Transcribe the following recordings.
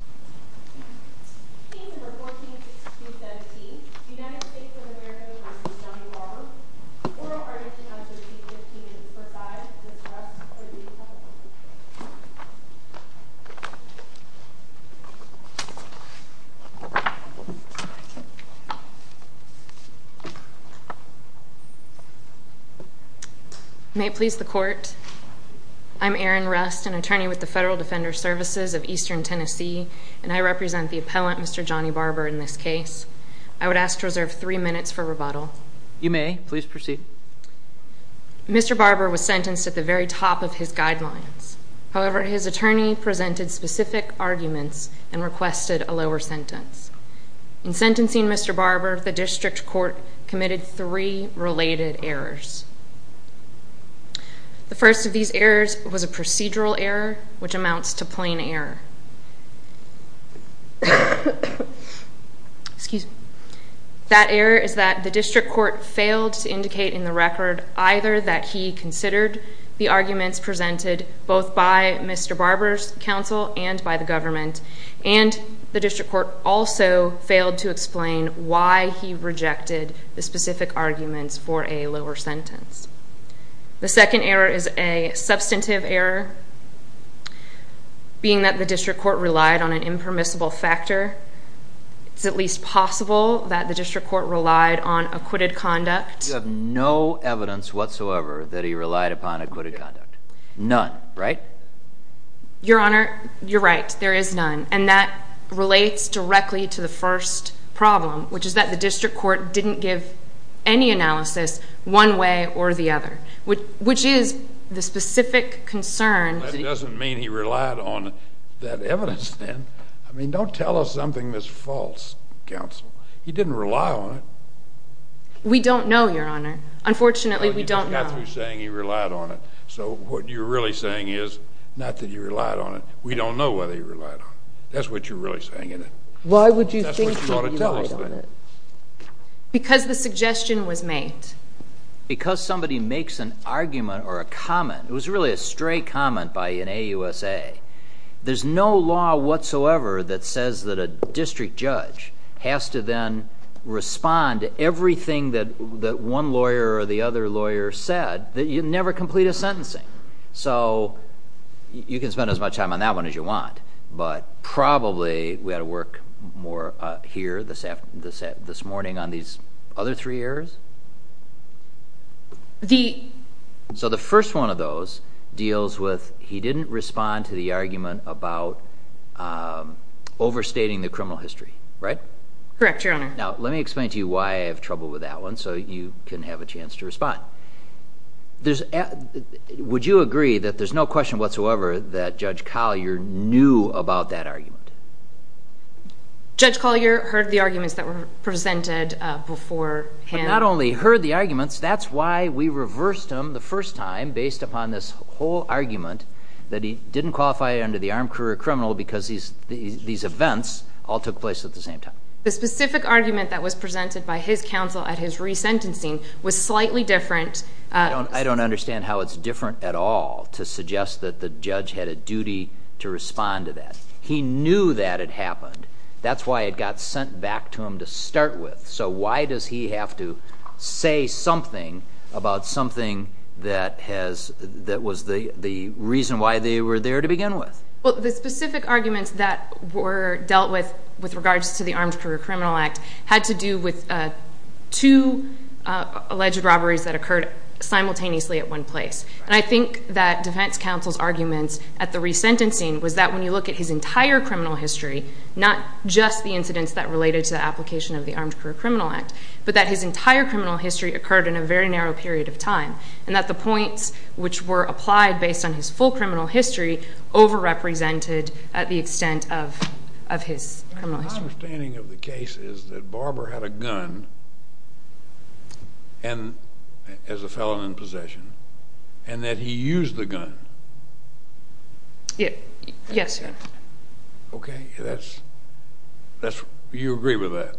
Oral Article No. 315 is presided by Ms. Rust for the Department of Justice. May it please the Court, I'm Erin Rust, an attorney with the Federal Defender Services of Eastern Tennessee, and I represent the appellant, Mr. Johnny Barbour, in this case. I would ask to reserve three minutes for rebuttal. You may. Please proceed. Mr. Barbour was sentenced at the very top of his guidelines, however, his attorney presented specific arguments and requested a lower sentence. In sentencing Mr. Barbour, the District Court committed three related errors. The first of these errors was a procedural error, which amounts to plain error. That error is that the District Court failed to indicate in the record either that he considered the arguments presented both by Mr. Barbour's counsel and by the government, and the District The second error is a substantive error, being that the District Court relied on an impermissible factor. It's at least possible that the District Court relied on acquitted conduct. You have no evidence whatsoever that he relied upon acquitted conduct. None, right? Your Honor, you're right, there is none. And that relates directly to the first problem, which is that the District Court didn't give any analysis one way or the other, which is the specific concern That doesn't mean he relied on that evidence then. I mean, don't tell us something that's false, counsel. He didn't rely on it. We don't know, Your Honor. Unfortunately, we don't know. Well, you just got through saying he relied on it. So what you're really saying is, not that he relied on it, we don't know whether he relied on it. That's what you're really saying, isn't it? Why would you think that he relied on it? Because the suggestion was made. Because somebody makes an argument or a comment, it was really a stray comment by an AUSA, there's no law whatsoever that says that a district judge has to then respond to everything that one lawyer or the other lawyer said, that you never complete a sentencing. So you can spend as much time on that one as you want, but probably we didn't hear that this morning on these other three errors? So the first one of those deals with, he didn't respond to the argument about overstating the criminal history, right? Correct, Your Honor. Now, let me explain to you why I have trouble with that one, so you can have a chance to respond. Would you agree that there's no question whatsoever that Judge Collier knew about that argument? Judge Collier heard the arguments that were presented before him. But not only heard the arguments, that's why we reversed them the first time based upon this whole argument that he didn't qualify under the armed career criminal because these events all took place at the same time. The specific argument that was presented by his counsel at his resentencing was slightly different. I don't understand how it's different at all to suggest that the judge had a duty to respond to that. He knew that it happened. That's why it got sent back to him to start with. So why does he have to say something about something that was the reason why they were there to begin with? Well, the specific arguments that were dealt with with regards to the armed career criminal act had to do with two alleged robberies that occurred simultaneously at one place. I think that defense counsel's arguments at the resentencing was that when you look at his entire criminal history, not just the incidents that related to the application of the armed career criminal act, but that his entire criminal history occurred in a very narrow period of time. And that the points which were applied based on his full criminal history over represented at the extent of his criminal history. My understanding of the case is that Barber had a gun as a felon in possession and that he used the gun. Yes, your honor. Okay. That's... you agree with that?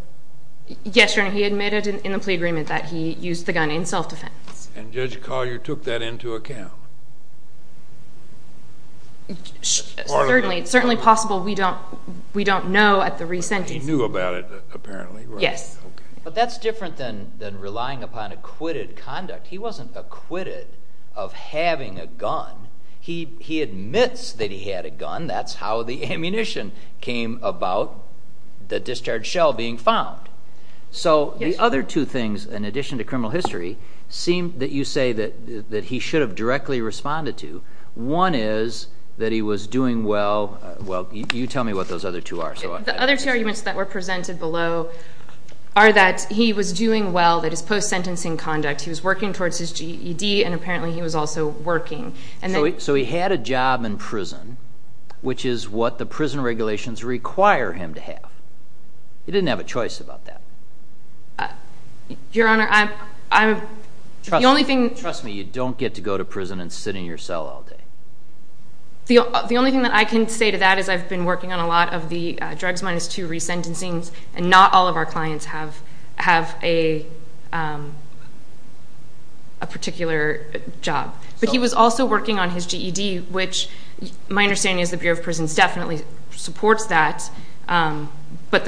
Yes, your honor. He admitted in the plea agreement that he used the gun in self defense. And Judge Collier took that into account? Certainly. It's certainly possible we don't know at the resentencing. He knew about it apparently, right? Yes. Yes. But that's different than relying upon acquitted conduct. He wasn't acquitted of having a gun. He admits that he had a gun. That's how the ammunition came about the discharge shell being found. So the other two things, in addition to criminal history, seem that you say that he should have directly responded to. One is that he was doing well... well, you tell me what those other two are. The other two arguments that were presented below are that he was doing well, that his his GED, and apparently he was also working. So he had a job in prison, which is what the prison regulations require him to have. He didn't have a choice about that. Your honor, I... the only thing... Trust me, you don't get to go to prison and sit in your cell all day. The only thing that I can say to that is I've been working on a lot of the drugs minus two a particular job. But he was also working on his GED, which my understanding is the Bureau of Prisons definitely supports that. But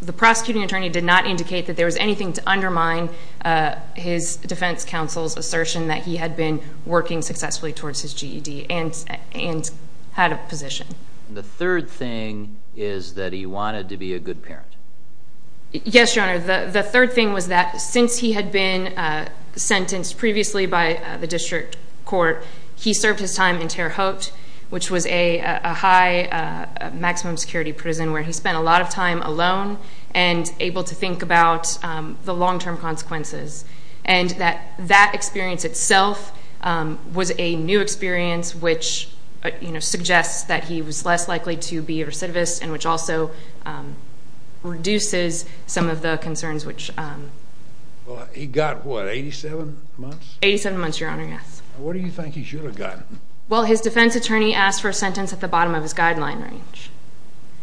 the prosecuting attorney did not indicate that there was anything to undermine his defense counsel's assertion that he had been working successfully towards his GED and had a position. The third thing is that he wanted to be a good parent. Yes, your honor. The third thing was that since he had been sentenced previously by the district court, he served his time in Terre Haute, which was a high maximum security prison where he spent a lot of time alone and able to think about the long-term consequences. And that experience itself was a new experience, which suggests that he was less likely to be a recidivist and which also reduces some of the concerns, which... He got what? Eighty-seven months? Eighty-seven months, your honor. Yes. What do you think he should have gotten? Well, his defense attorney asked for a sentence at the bottom of his guideline range.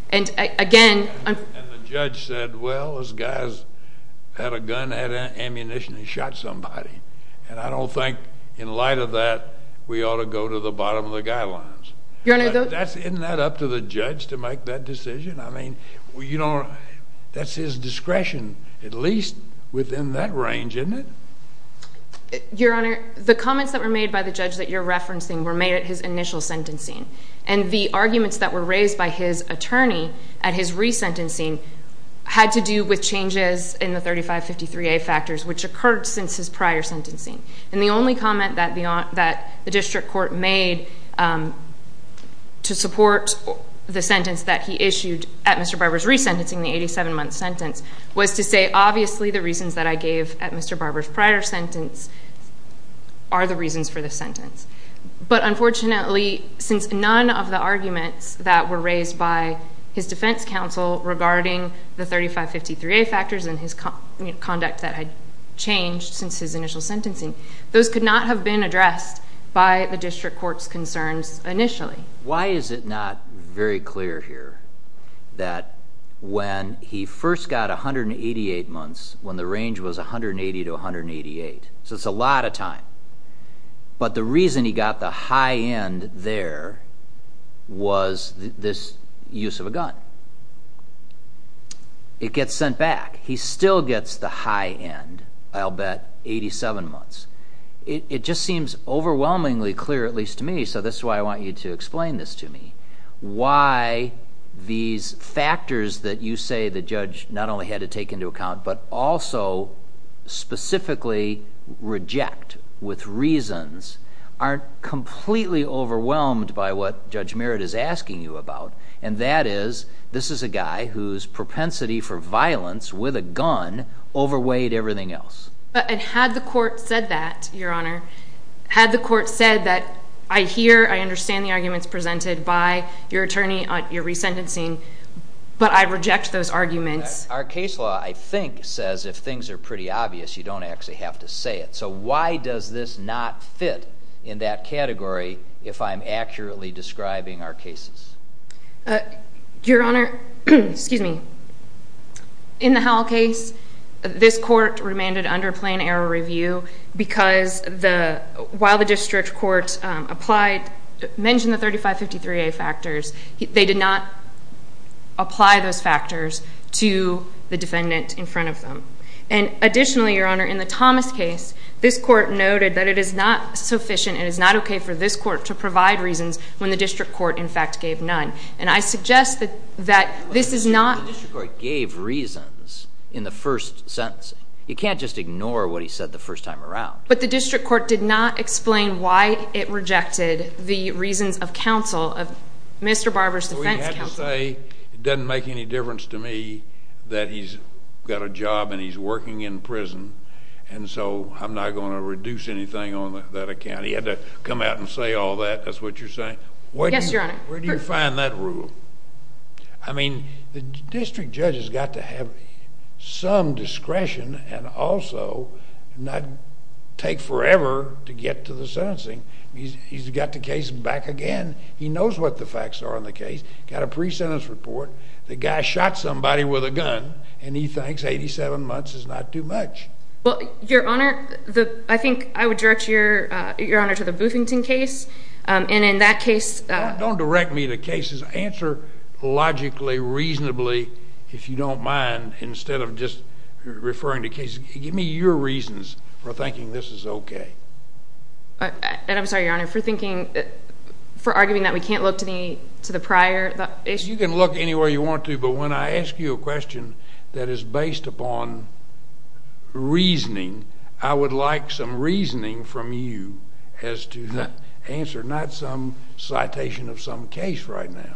And again... And the judge said, well, those guys had a gun, had ammunition, and shot somebody. And I don't think in light of that, we ought to go to the bottom of the guidelines. Your honor... But isn't that up to the judge to make that decision? I mean, that's his discretion, at least within that range, isn't it? Your honor, the comments that were made by the judge that you're referencing were made at his initial sentencing. And the arguments that were raised by his attorney at his resentencing had to do with changes in the 3553A factors, which occurred since his prior sentencing. And the only comment that the district court made to support the sentence that he issued at Mr. Barber's resentencing, the 87-month sentence, was to say, obviously, the reasons that I gave at Mr. Barber's prior sentence are the reasons for this sentence. But unfortunately, since none of the arguments that were raised by his defense counsel regarding the 3553A factors and his conduct that had changed since his initial sentencing, those could not have been addressed by the district court's concerns initially. Why is it not very clear here that when he first got 188 months, when the range was 180 to 188, so it's a lot of time, but the reason he got the high end there was this use of a gun. It gets sent back. He still gets the high end, I'll bet, 87 months. It just seems overwhelmingly clear, at least to me, so this is why I want you to explain this to me, why these factors that you say the judge not only had to take into account but also specifically reject with reasons aren't completely overwhelmed by what Judge Barber says, this is a guy whose propensity for violence with a gun overweighed everything else. And had the court said that, Your Honor, had the court said that, I hear, I understand the arguments presented by your attorney on your resentencing, but I reject those arguments. Our case law, I think, says if things are pretty obvious, you don't actually have to say it. So why does this not fit in that category if I'm accurately describing our cases? Your Honor, excuse me, in the Howell case, this court remanded under plan error review because while the district court mentioned the 3553A factors, they did not apply those factors to the defendant in front of them. And additionally, Your Honor, in the Thomas case, this court noted that it is not sufficient, it is not okay for this court to provide reasons when the district court, in fact, gave none. And I suggest that this is not... But the district court gave reasons in the first sentence. You can't just ignore what he said the first time around. But the district court did not explain why it rejected the reasons of counsel, of Mr. Barber's defense counsel. Well, he had to say, it doesn't make any difference to me that he's got a job and he's working in prison, and so I'm not going to reduce anything on that account. And he had to come out and say all that? That's what you're saying? Yes, Your Honor. Where do you find that rule? I mean, the district judge has got to have some discretion and also not take forever to get to the sentencing. He's got the case back again. He knows what the facts are on the case, got a pre-sentence report. The guy shot somebody with a gun, and he thinks 87 months is not too much. Well, Your Honor, I think I would direct Your Honor to the Boothington case, and in that case... Don't direct me to cases. Answer logically, reasonably, if you don't mind, instead of just referring to cases. Give me your reasons for thinking this is okay. And I'm sorry, Your Honor, for thinking... for arguing that we can't look to the prior. You can look anywhere you want to, but when I ask you a question that is based upon reasoning, I would like some reasoning from you as to the answer, not some citation of some case right now.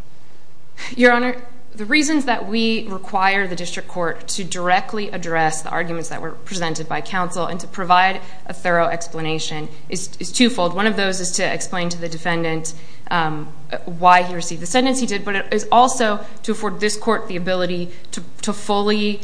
Your Honor, the reasons that we require the district court to directly address the arguments that were presented by counsel and to provide a thorough explanation is twofold. One of those is to explain to the defendant why he received the sentence he did, but it is also to afford this court the ability to fully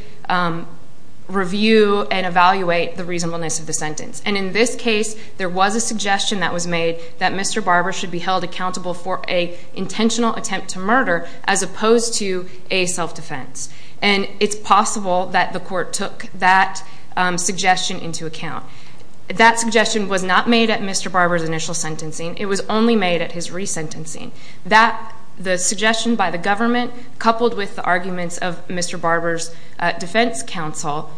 review and evaluate the reasonableness of the sentence. And in this case, there was a suggestion that was made that Mr. Barber should be held accountable for an intentional attempt to murder as opposed to a self-defense. And it's possible that the court took that suggestion into account. That suggestion was not made at Mr. Barber's initial sentencing. It was only made at his resentencing. The suggestion by the government coupled with the arguments of Mr. Barber's defense counsel,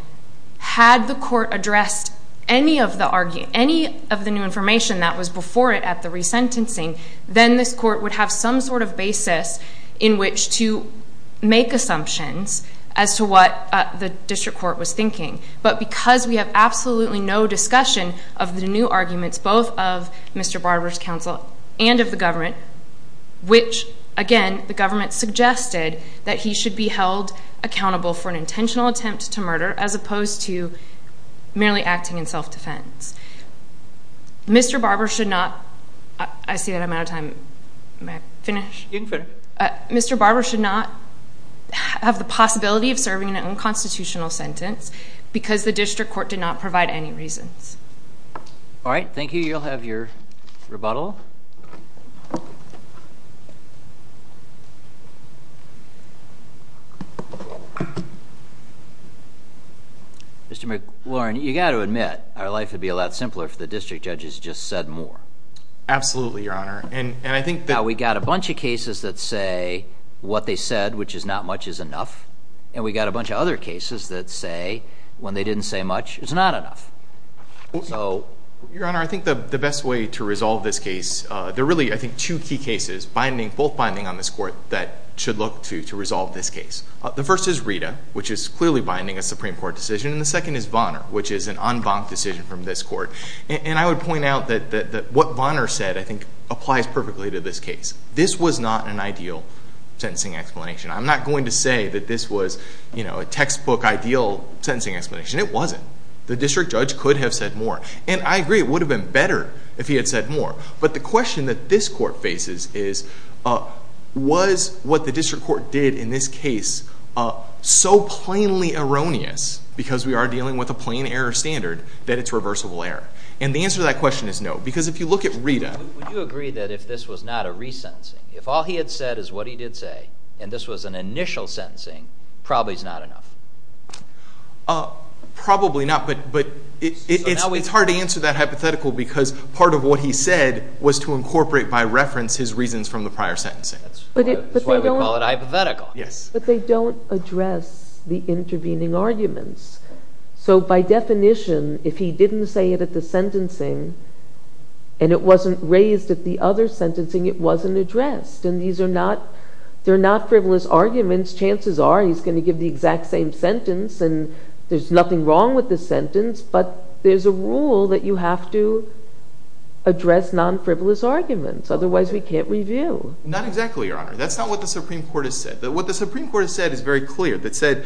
had the court addressed any of the new information that was before it at the resentencing, then this court would have some sort of basis in which to make assumptions as to what the district court was thinking. But because we have absolutely no discussion of the new arguments, both of Mr. Barber's counsel and of the government, which again, the government suggested that he should be held accountable for an intentional attempt to murder as opposed to merely acting in self-defense. Mr. Barber should not, I see that I'm out of time. May I finish? You can finish. Mr. Barber should not have the possibility of serving an unconstitutional sentence because the district court did not provide any reasons. All right. Thank you. You'll have your rebuttal. Mr. McLaurin, you've got to admit, our life would be a lot simpler if the district judge has just said more. Absolutely, Your Honor. Now, we've got a bunch of cases that say, what they said, which is not much, is enough. And we've got a bunch of other cases that say, when they didn't say much, it's not enough. Your Honor, I think the best way to resolve this case, there are really, I think, two key cases, both binding on this court, that should look to resolve this case. The first is Rita, which is clearly binding a Supreme Court decision. And the second is Vonner, which is an en banc decision from this court. And I would point out that what Vonner said, I think, applies perfectly to this case. This was not an ideal sentencing explanation. I'm not going to say that this was a textbook ideal sentencing explanation. It wasn't. The district judge could have said more. And I agree, it would have been better if he had said more. But the question that this court faces is, was what the district court did in this case so plainly erroneous, because we are dealing with a plain error standard, that it's reversible error? And the answer to that question is no. Because if you look at Rita. Would you agree that if this was not a resentencing, if all he had said is what he did say, and this was an initial sentencing, probably is not enough? Probably not. But it's hard to answer that hypothetical, because part of what he said was to incorporate by reference his reasons from the prior sentencing. That's why we call it hypothetical. Yes. But they don't address the intervening arguments. So by definition, if he didn't say it at the sentencing, and it wasn't raised at the other sentencing, it wasn't addressed. And these are not frivolous arguments. Chances are, he's going to give the exact same sentence, and there's nothing wrong with the sentence. But there's a rule that you have to address non-frivolous arguments, otherwise we can't review. That's not what the Supreme Court has said. What the Supreme Court has said is very clear. That said,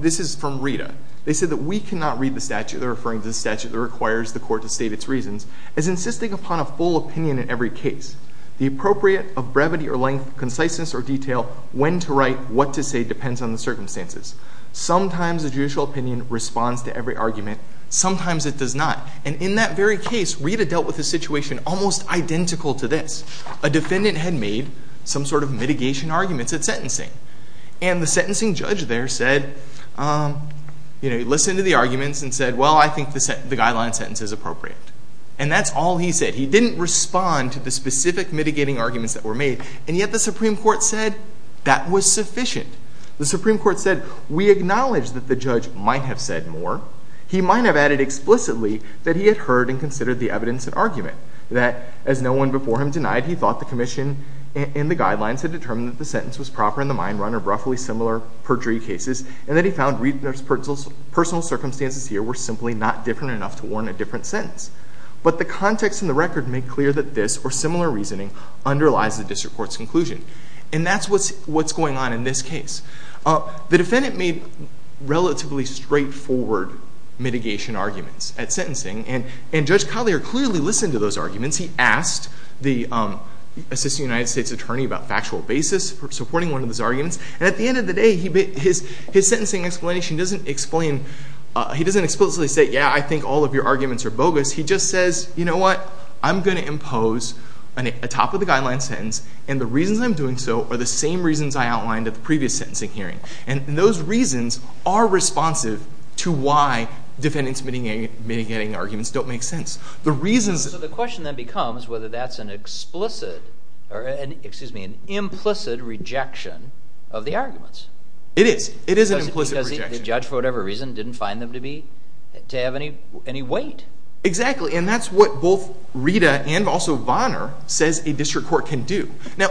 this is from Rita. They said that we cannot read the statute, they're referring to the statute that requires the court to state its reasons, as insisting upon a full opinion in every case. The appropriate of brevity or length, conciseness or detail, when to write, what to say, depends on the circumstances. Sometimes a judicial opinion responds to every argument. Sometimes it does not. And in that very case, Rita dealt with a situation almost identical to this. A defendant had made some sort of mitigation arguments at sentencing. And the sentencing judge there said, you know, he listened to the arguments and said, well, I think the guideline sentence is appropriate. And that's all he said. He didn't respond to the specific mitigating arguments that were made. And yet the Supreme Court said that was sufficient. The Supreme Court said, we acknowledge that the judge might have said more. He might have added explicitly that he had heard and considered the evidence an argument. That as no one before him denied, he thought the commission and the guidelines had determined that the sentence was proper in the mind run of roughly similar perjury cases. And that he found Rita's personal circumstances here were simply not different enough to warrant a different sentence. But the context in the record made clear that this or similar reasoning underlies the district court's conclusion. And that's what's going on in this case. The defendant made relatively straightforward mitigation arguments at sentencing. And Judge Collier clearly listened to those arguments. He asked the assistant United States attorney about factual basis for supporting one of those arguments. And at the end of the day, his sentencing explanation doesn't explain, he doesn't explicitly say, yeah, I think all of your arguments are bogus. He just says, you know what, I'm going to impose a top of the guideline sentence and the reasons I'm doing so are the same reasons I outlined at the previous sentencing hearing. And those reasons are responsive to why defendants mitigating arguments don't make sense. The reasons... So the question then becomes whether that's an explicit, excuse me, an implicit rejection of the arguments. It is. It is an implicit rejection. Because the judge, for whatever reason, didn't find them to be, to have any weight. Exactly. And that's what both Rita and also Vonner says a district court can do. Now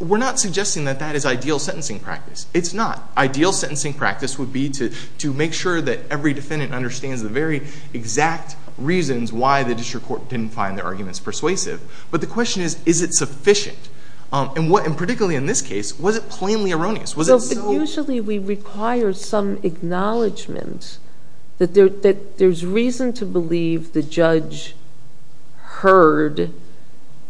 we're not suggesting that that is ideal sentencing practice. It's not. Ideal sentencing practice would be to make sure that every defendant understands the very exact reasons why the district court didn't find their arguments persuasive. But the question is, is it sufficient? And particularly in this case, was it plainly erroneous? Was it so... Usually we require some acknowledgment that there's reason to believe the judge heard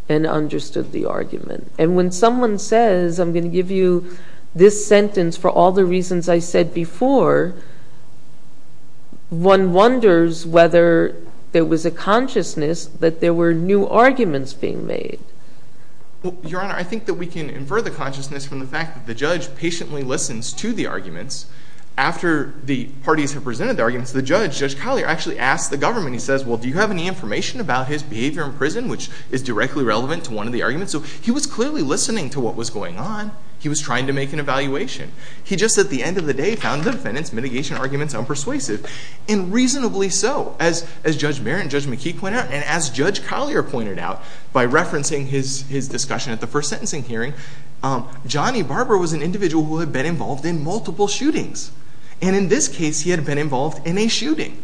and understood the argument. And when someone says, I'm going to give you this sentence for all the reasons I said before, one wonders whether there was a consciousness that there were new arguments being made. Well, Your Honor, I think that we can infer the consciousness from the fact that the judge patiently listens to the arguments. After the parties have presented the arguments, the judge, Judge Collier, actually asks the government, he says, well, do you have any information about his behavior in prison, which is directly relevant to one of the arguments? So he was clearly listening to what was going on. He was trying to make an evaluation. He just, at the end of the day, found the defendants' mitigation arguments unpersuasive and reasonably so. As Judge Barrett and Judge McKee pointed out, and as Judge Collier pointed out by referencing his discussion at the first sentencing hearing, Johnny Barber was an individual who had been involved in multiple shootings. And in this case, he had been involved in a shooting.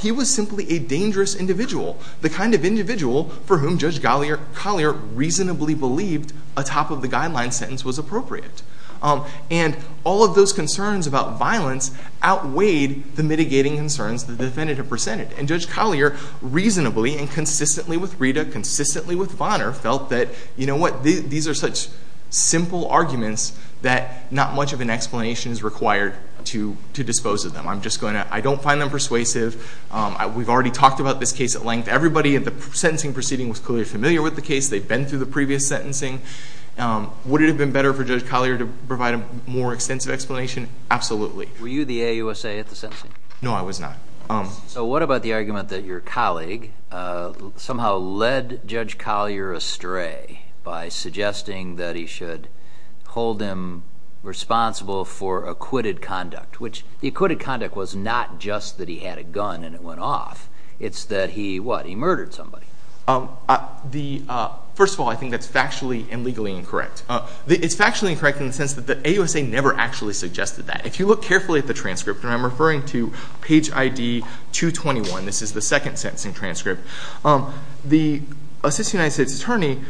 He was simply a dangerous individual. The kind of individual for whom Judge Collier reasonably believed a top-of-the-guideline sentence was appropriate. And all of those concerns about violence outweighed the mitigating concerns the defendant had presented. And Judge Collier reasonably and consistently with Rita, consistently with Bonner, felt that, you know what, these are such simple arguments that not much of an explanation is required to dispose of them. I don't find them persuasive. We've already talked about this case at length. Everybody at the sentencing proceeding was clearly familiar with the case. They've been through the previous sentencing. Would it have been better for Judge Collier to provide a more extensive explanation? Absolutely. Were you the AUSA at the sentencing? No, I was not. So what about the argument that your colleague somehow led Judge Collier astray by suggesting that he should hold him responsible for acquitted conduct, which the acquitted conduct was not just that he had a gun and it went off. It's that he, what, he murdered somebody. First of all, I think that's factually and legally incorrect. It's factually incorrect in the sense that the AUSA never actually suggested that. If you look carefully at the transcript, and I'm referring to page ID 221. This is the second sentencing transcript. The assistant United States attorney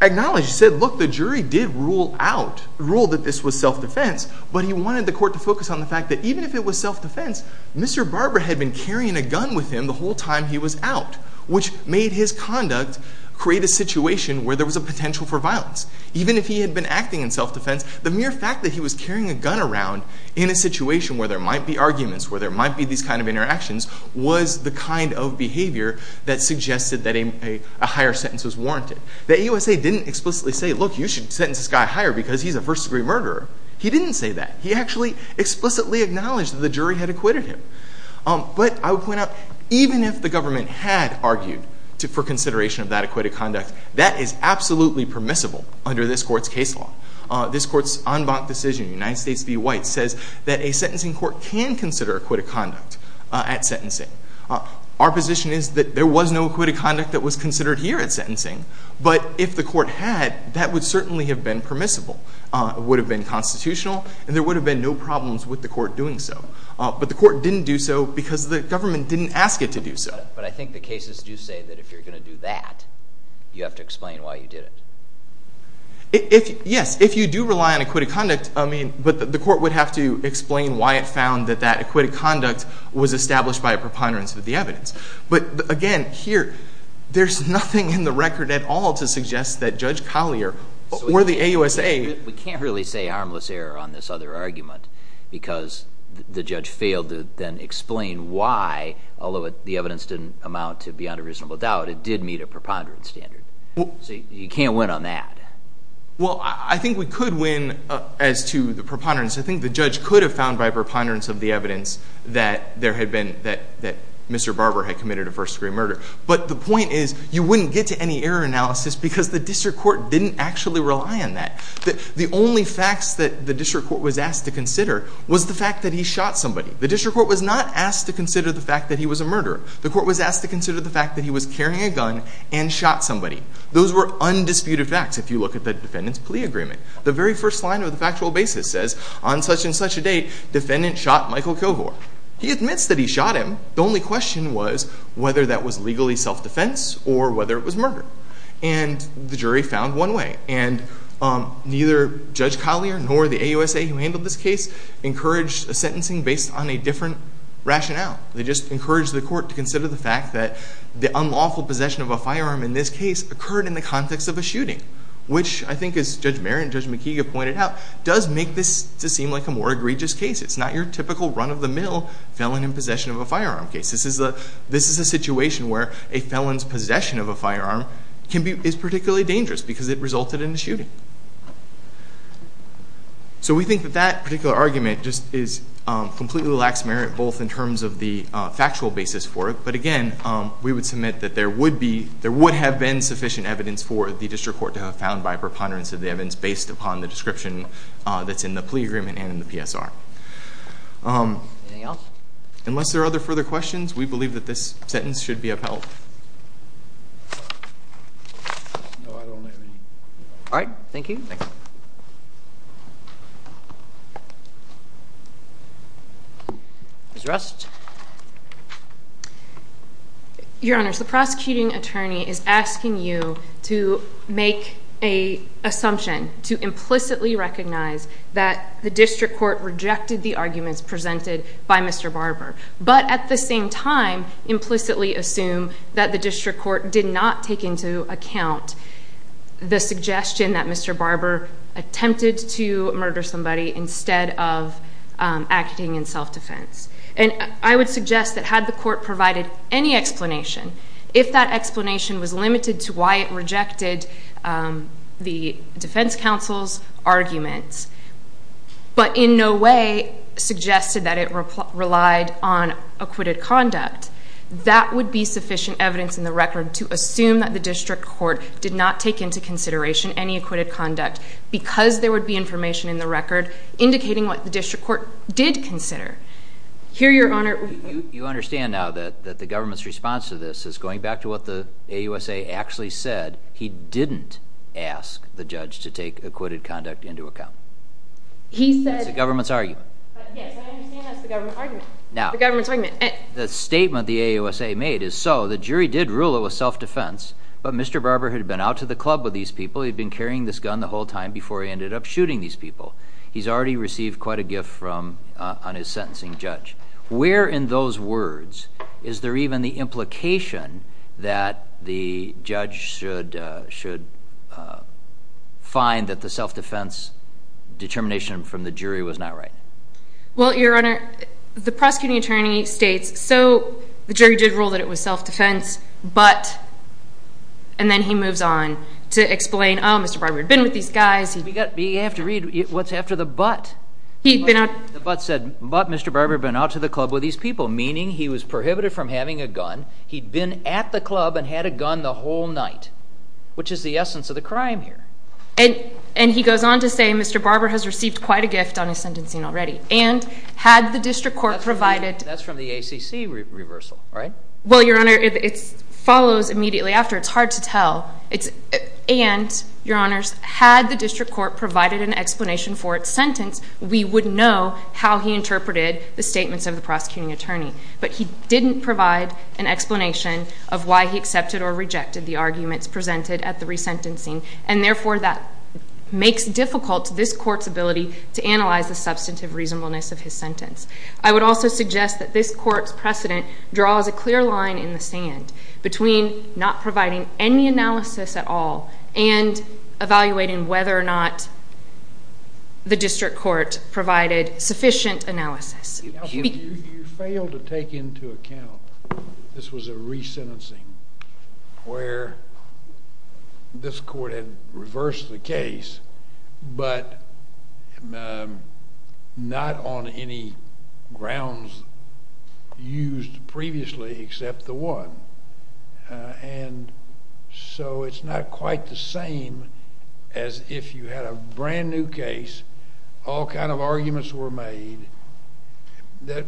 acknowledged, said, look, the jury did rule out, ruled that this was self-defense, but he wanted the court to focus on the fact that even if it was self-defense Mr. Barber had been carrying a gun with him the whole time he was out, which made his conduct create a situation where there was a potential for violence. Even if he had been acting in self-defense, the mere fact that he was carrying a gun around in a situation where there might be arguments, where there might be these kind of interactions, was the kind of behavior that suggested that a higher sentence was warranted. The AUSA didn't explicitly say, look, you should sentence this guy higher because he's a first-degree murderer. He didn't say that. He actually explicitly acknowledged that the jury had acquitted him. But I would point out, even if the government had argued for consideration of that acquitted conduct, that is absolutely permissible under this court's case law. This court's en banc decision, United States v. White, says that a sentencing court can consider acquitted conduct at sentencing. Our position is that there was no acquitted conduct that was considered here at sentencing, but if the court had, that would certainly have been permissible. It would have been constitutional, and there would have been no problems with the court doing so. But the court didn't do so because the government didn't ask it to do so. But I think the cases do say that if you're going to do that, you have to explain why you did it. Yes. If you do rely on acquitted conduct, I mean, but the court would have to explain why it found that that acquitted conduct was established by a preponderance of the evidence. But again, here, there's nothing in the record at all to suggest that Judge Collier or the I can't really say harmless error on this other argument because the judge failed to then explain why, although the evidence didn't amount to beyond a reasonable doubt, it did meet a preponderance standard. So you can't win on that. Well, I think we could win as to the preponderance. I think the judge could have found by preponderance of the evidence that there had been, that Mr. Barber had committed a first-degree murder. But the point is, you wouldn't get to any error analysis because the district court didn't actually rely on that. The only facts that the district court was asked to consider was the fact that he shot somebody. The district court was not asked to consider the fact that he was a murderer. The court was asked to consider the fact that he was carrying a gun and shot somebody. Those were undisputed facts if you look at the defendant's plea agreement. The very first line of the factual basis says, on such and such a date, defendant shot Michael Kilgore. He admits that he shot him. The only question was whether that was legally self-defense or whether it was murder. And the jury found one way. And neither Judge Collier nor the AUSA who handled this case encouraged a sentencing based on a different rationale. They just encouraged the court to consider the fact that the unlawful possession of a firearm in this case occurred in the context of a shooting, which I think, as Judge Merritt and Judge McKeague have pointed out, does make this to seem like a more egregious case. It's not your typical run-of-the-mill felon in possession of a firearm case. This is a situation where a felon's possession of a firearm is particularly dangerous because it resulted in a shooting. So we think that that particular argument just is completely lax, Merritt, both in terms of the factual basis for it, but again, we would submit that there would be, there would have been sufficient evidence for the district court to have found by a preponderance of the evidence based upon the description that's in the plea agreement and in the PSR. Unless there are other further questions, we believe that this sentence should be upheld. No, I don't have any. All right. Thank you. Thank you. Ms. Rust? Your Honors, the prosecuting attorney is asking you to make an assumption, to implicitly recognize that the district court rejected the arguments presented by Mr. Barber, but at the same time implicitly assume that the district court did not take into account the suggestion that Mr. Barber attempted to murder somebody instead of acting in self-defense. And I would suggest that had the court provided any explanation, if that explanation was limited to why it rejected the defense counsel's arguments, but in no way suggested that it relied on that, that would be sufficient evidence in the record to assume that the district court did not take into consideration any acquitted conduct because there would be information in the record indicating what the district court did consider. Here Your Honor- You understand now that the government's response to this is going back to what the AUSA actually said. He didn't ask the judge to take acquitted conduct into account. He said- That's the government's argument. Yes, I understand that's the government argument. Now- The government's argument. The statement the AUSA made is, so the jury did rule it was self-defense, but Mr. Barber had been out to the club with these people, he'd been carrying this gun the whole time before he ended up shooting these people. He's already received quite a gift on his sentencing, Judge. Where in those words is there even the implication that the judge should find that the self-defense determination from the jury was not right? Well, Your Honor, the prosecuting attorney states, so the jury did rule that it was self-defense, but- and then he moves on to explain, oh, Mr. Barber had been with these guys- You have to read what's after the but. He'd been out- The but said, but Mr. Barber had been out to the club with these people, meaning he was prohibited from having a gun, he'd been at the club and had a gun the whole night, which is the essence of the crime here. And he goes on to say, Mr. Barber has received quite a gift on his sentencing already. And had the district court provided- That's from the ACC reversal, right? Well, Your Honor, it follows immediately after. It's hard to tell. And Your Honors, had the district court provided an explanation for its sentence, we would know how he interpreted the statements of the prosecuting attorney. But he didn't provide an explanation of why he accepted or rejected the arguments presented at the resentencing. And therefore, that makes difficult this court's ability to analyze the substantive reasonableness of his sentence. I would also suggest that this court's precedent draws a clear line in the sand between not providing any analysis at all and evaluating whether or not the district court provided sufficient analysis. You failed to take into account this was a resentencing where this court had reversed the case, but not on any grounds used previously except the one. And so, it's not quite the same as if you had a brand new case, all kind of arguments were made,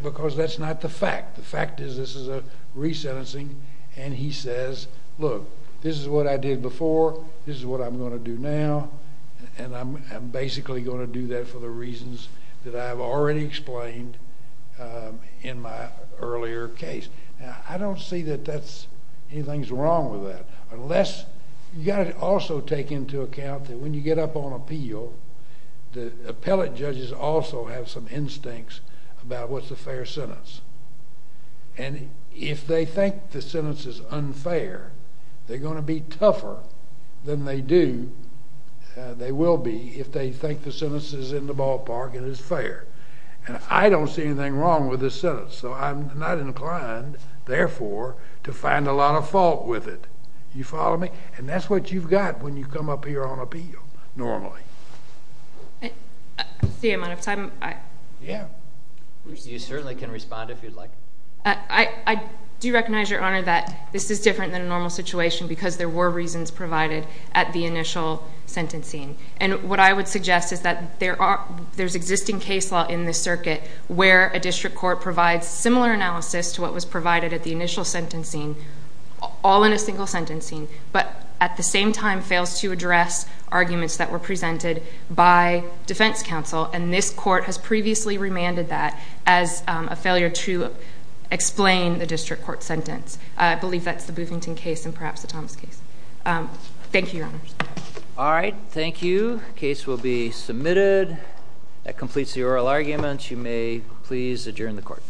because that's not the fact. The fact is this is a resentencing, and he says, look, this is what I did before, this is what I'm going to do now, and I'm basically going to do that for the reasons that I've already explained in my earlier case. Now, I don't see that anything's wrong with that, unless you've got to also take into account that when you get up on appeal, the appellate judges also have some instincts about what's a fair sentence. And if they think the sentence is unfair, they're going to be tougher than they do, they will be, if they think the sentence is in the ballpark and it's fair. And I don't see anything wrong with this sentence, so I'm not inclined, therefore, to find a lot of fault with it. You follow me? And that's what you've got when you come up here on appeal, normally. I see I'm out of time. Yeah. You certainly can respond if you'd like. I do recognize, Your Honor, that this is different than a normal situation, because there were reasons provided at the initial sentencing. And what I would suggest is that there's existing case law in this circuit where a district court provides similar analysis to what was provided at the initial sentencing, all in single sentencing, but at the same time fails to address arguments that were presented by defense counsel. And this court has previously remanded that as a failure to explain the district court sentence. I believe that's the Boothington case and perhaps the Thomas case. Thank you, Your Honor. All right. Thank you. Case will be submitted. That completes the oral arguments. You may please adjourn the court.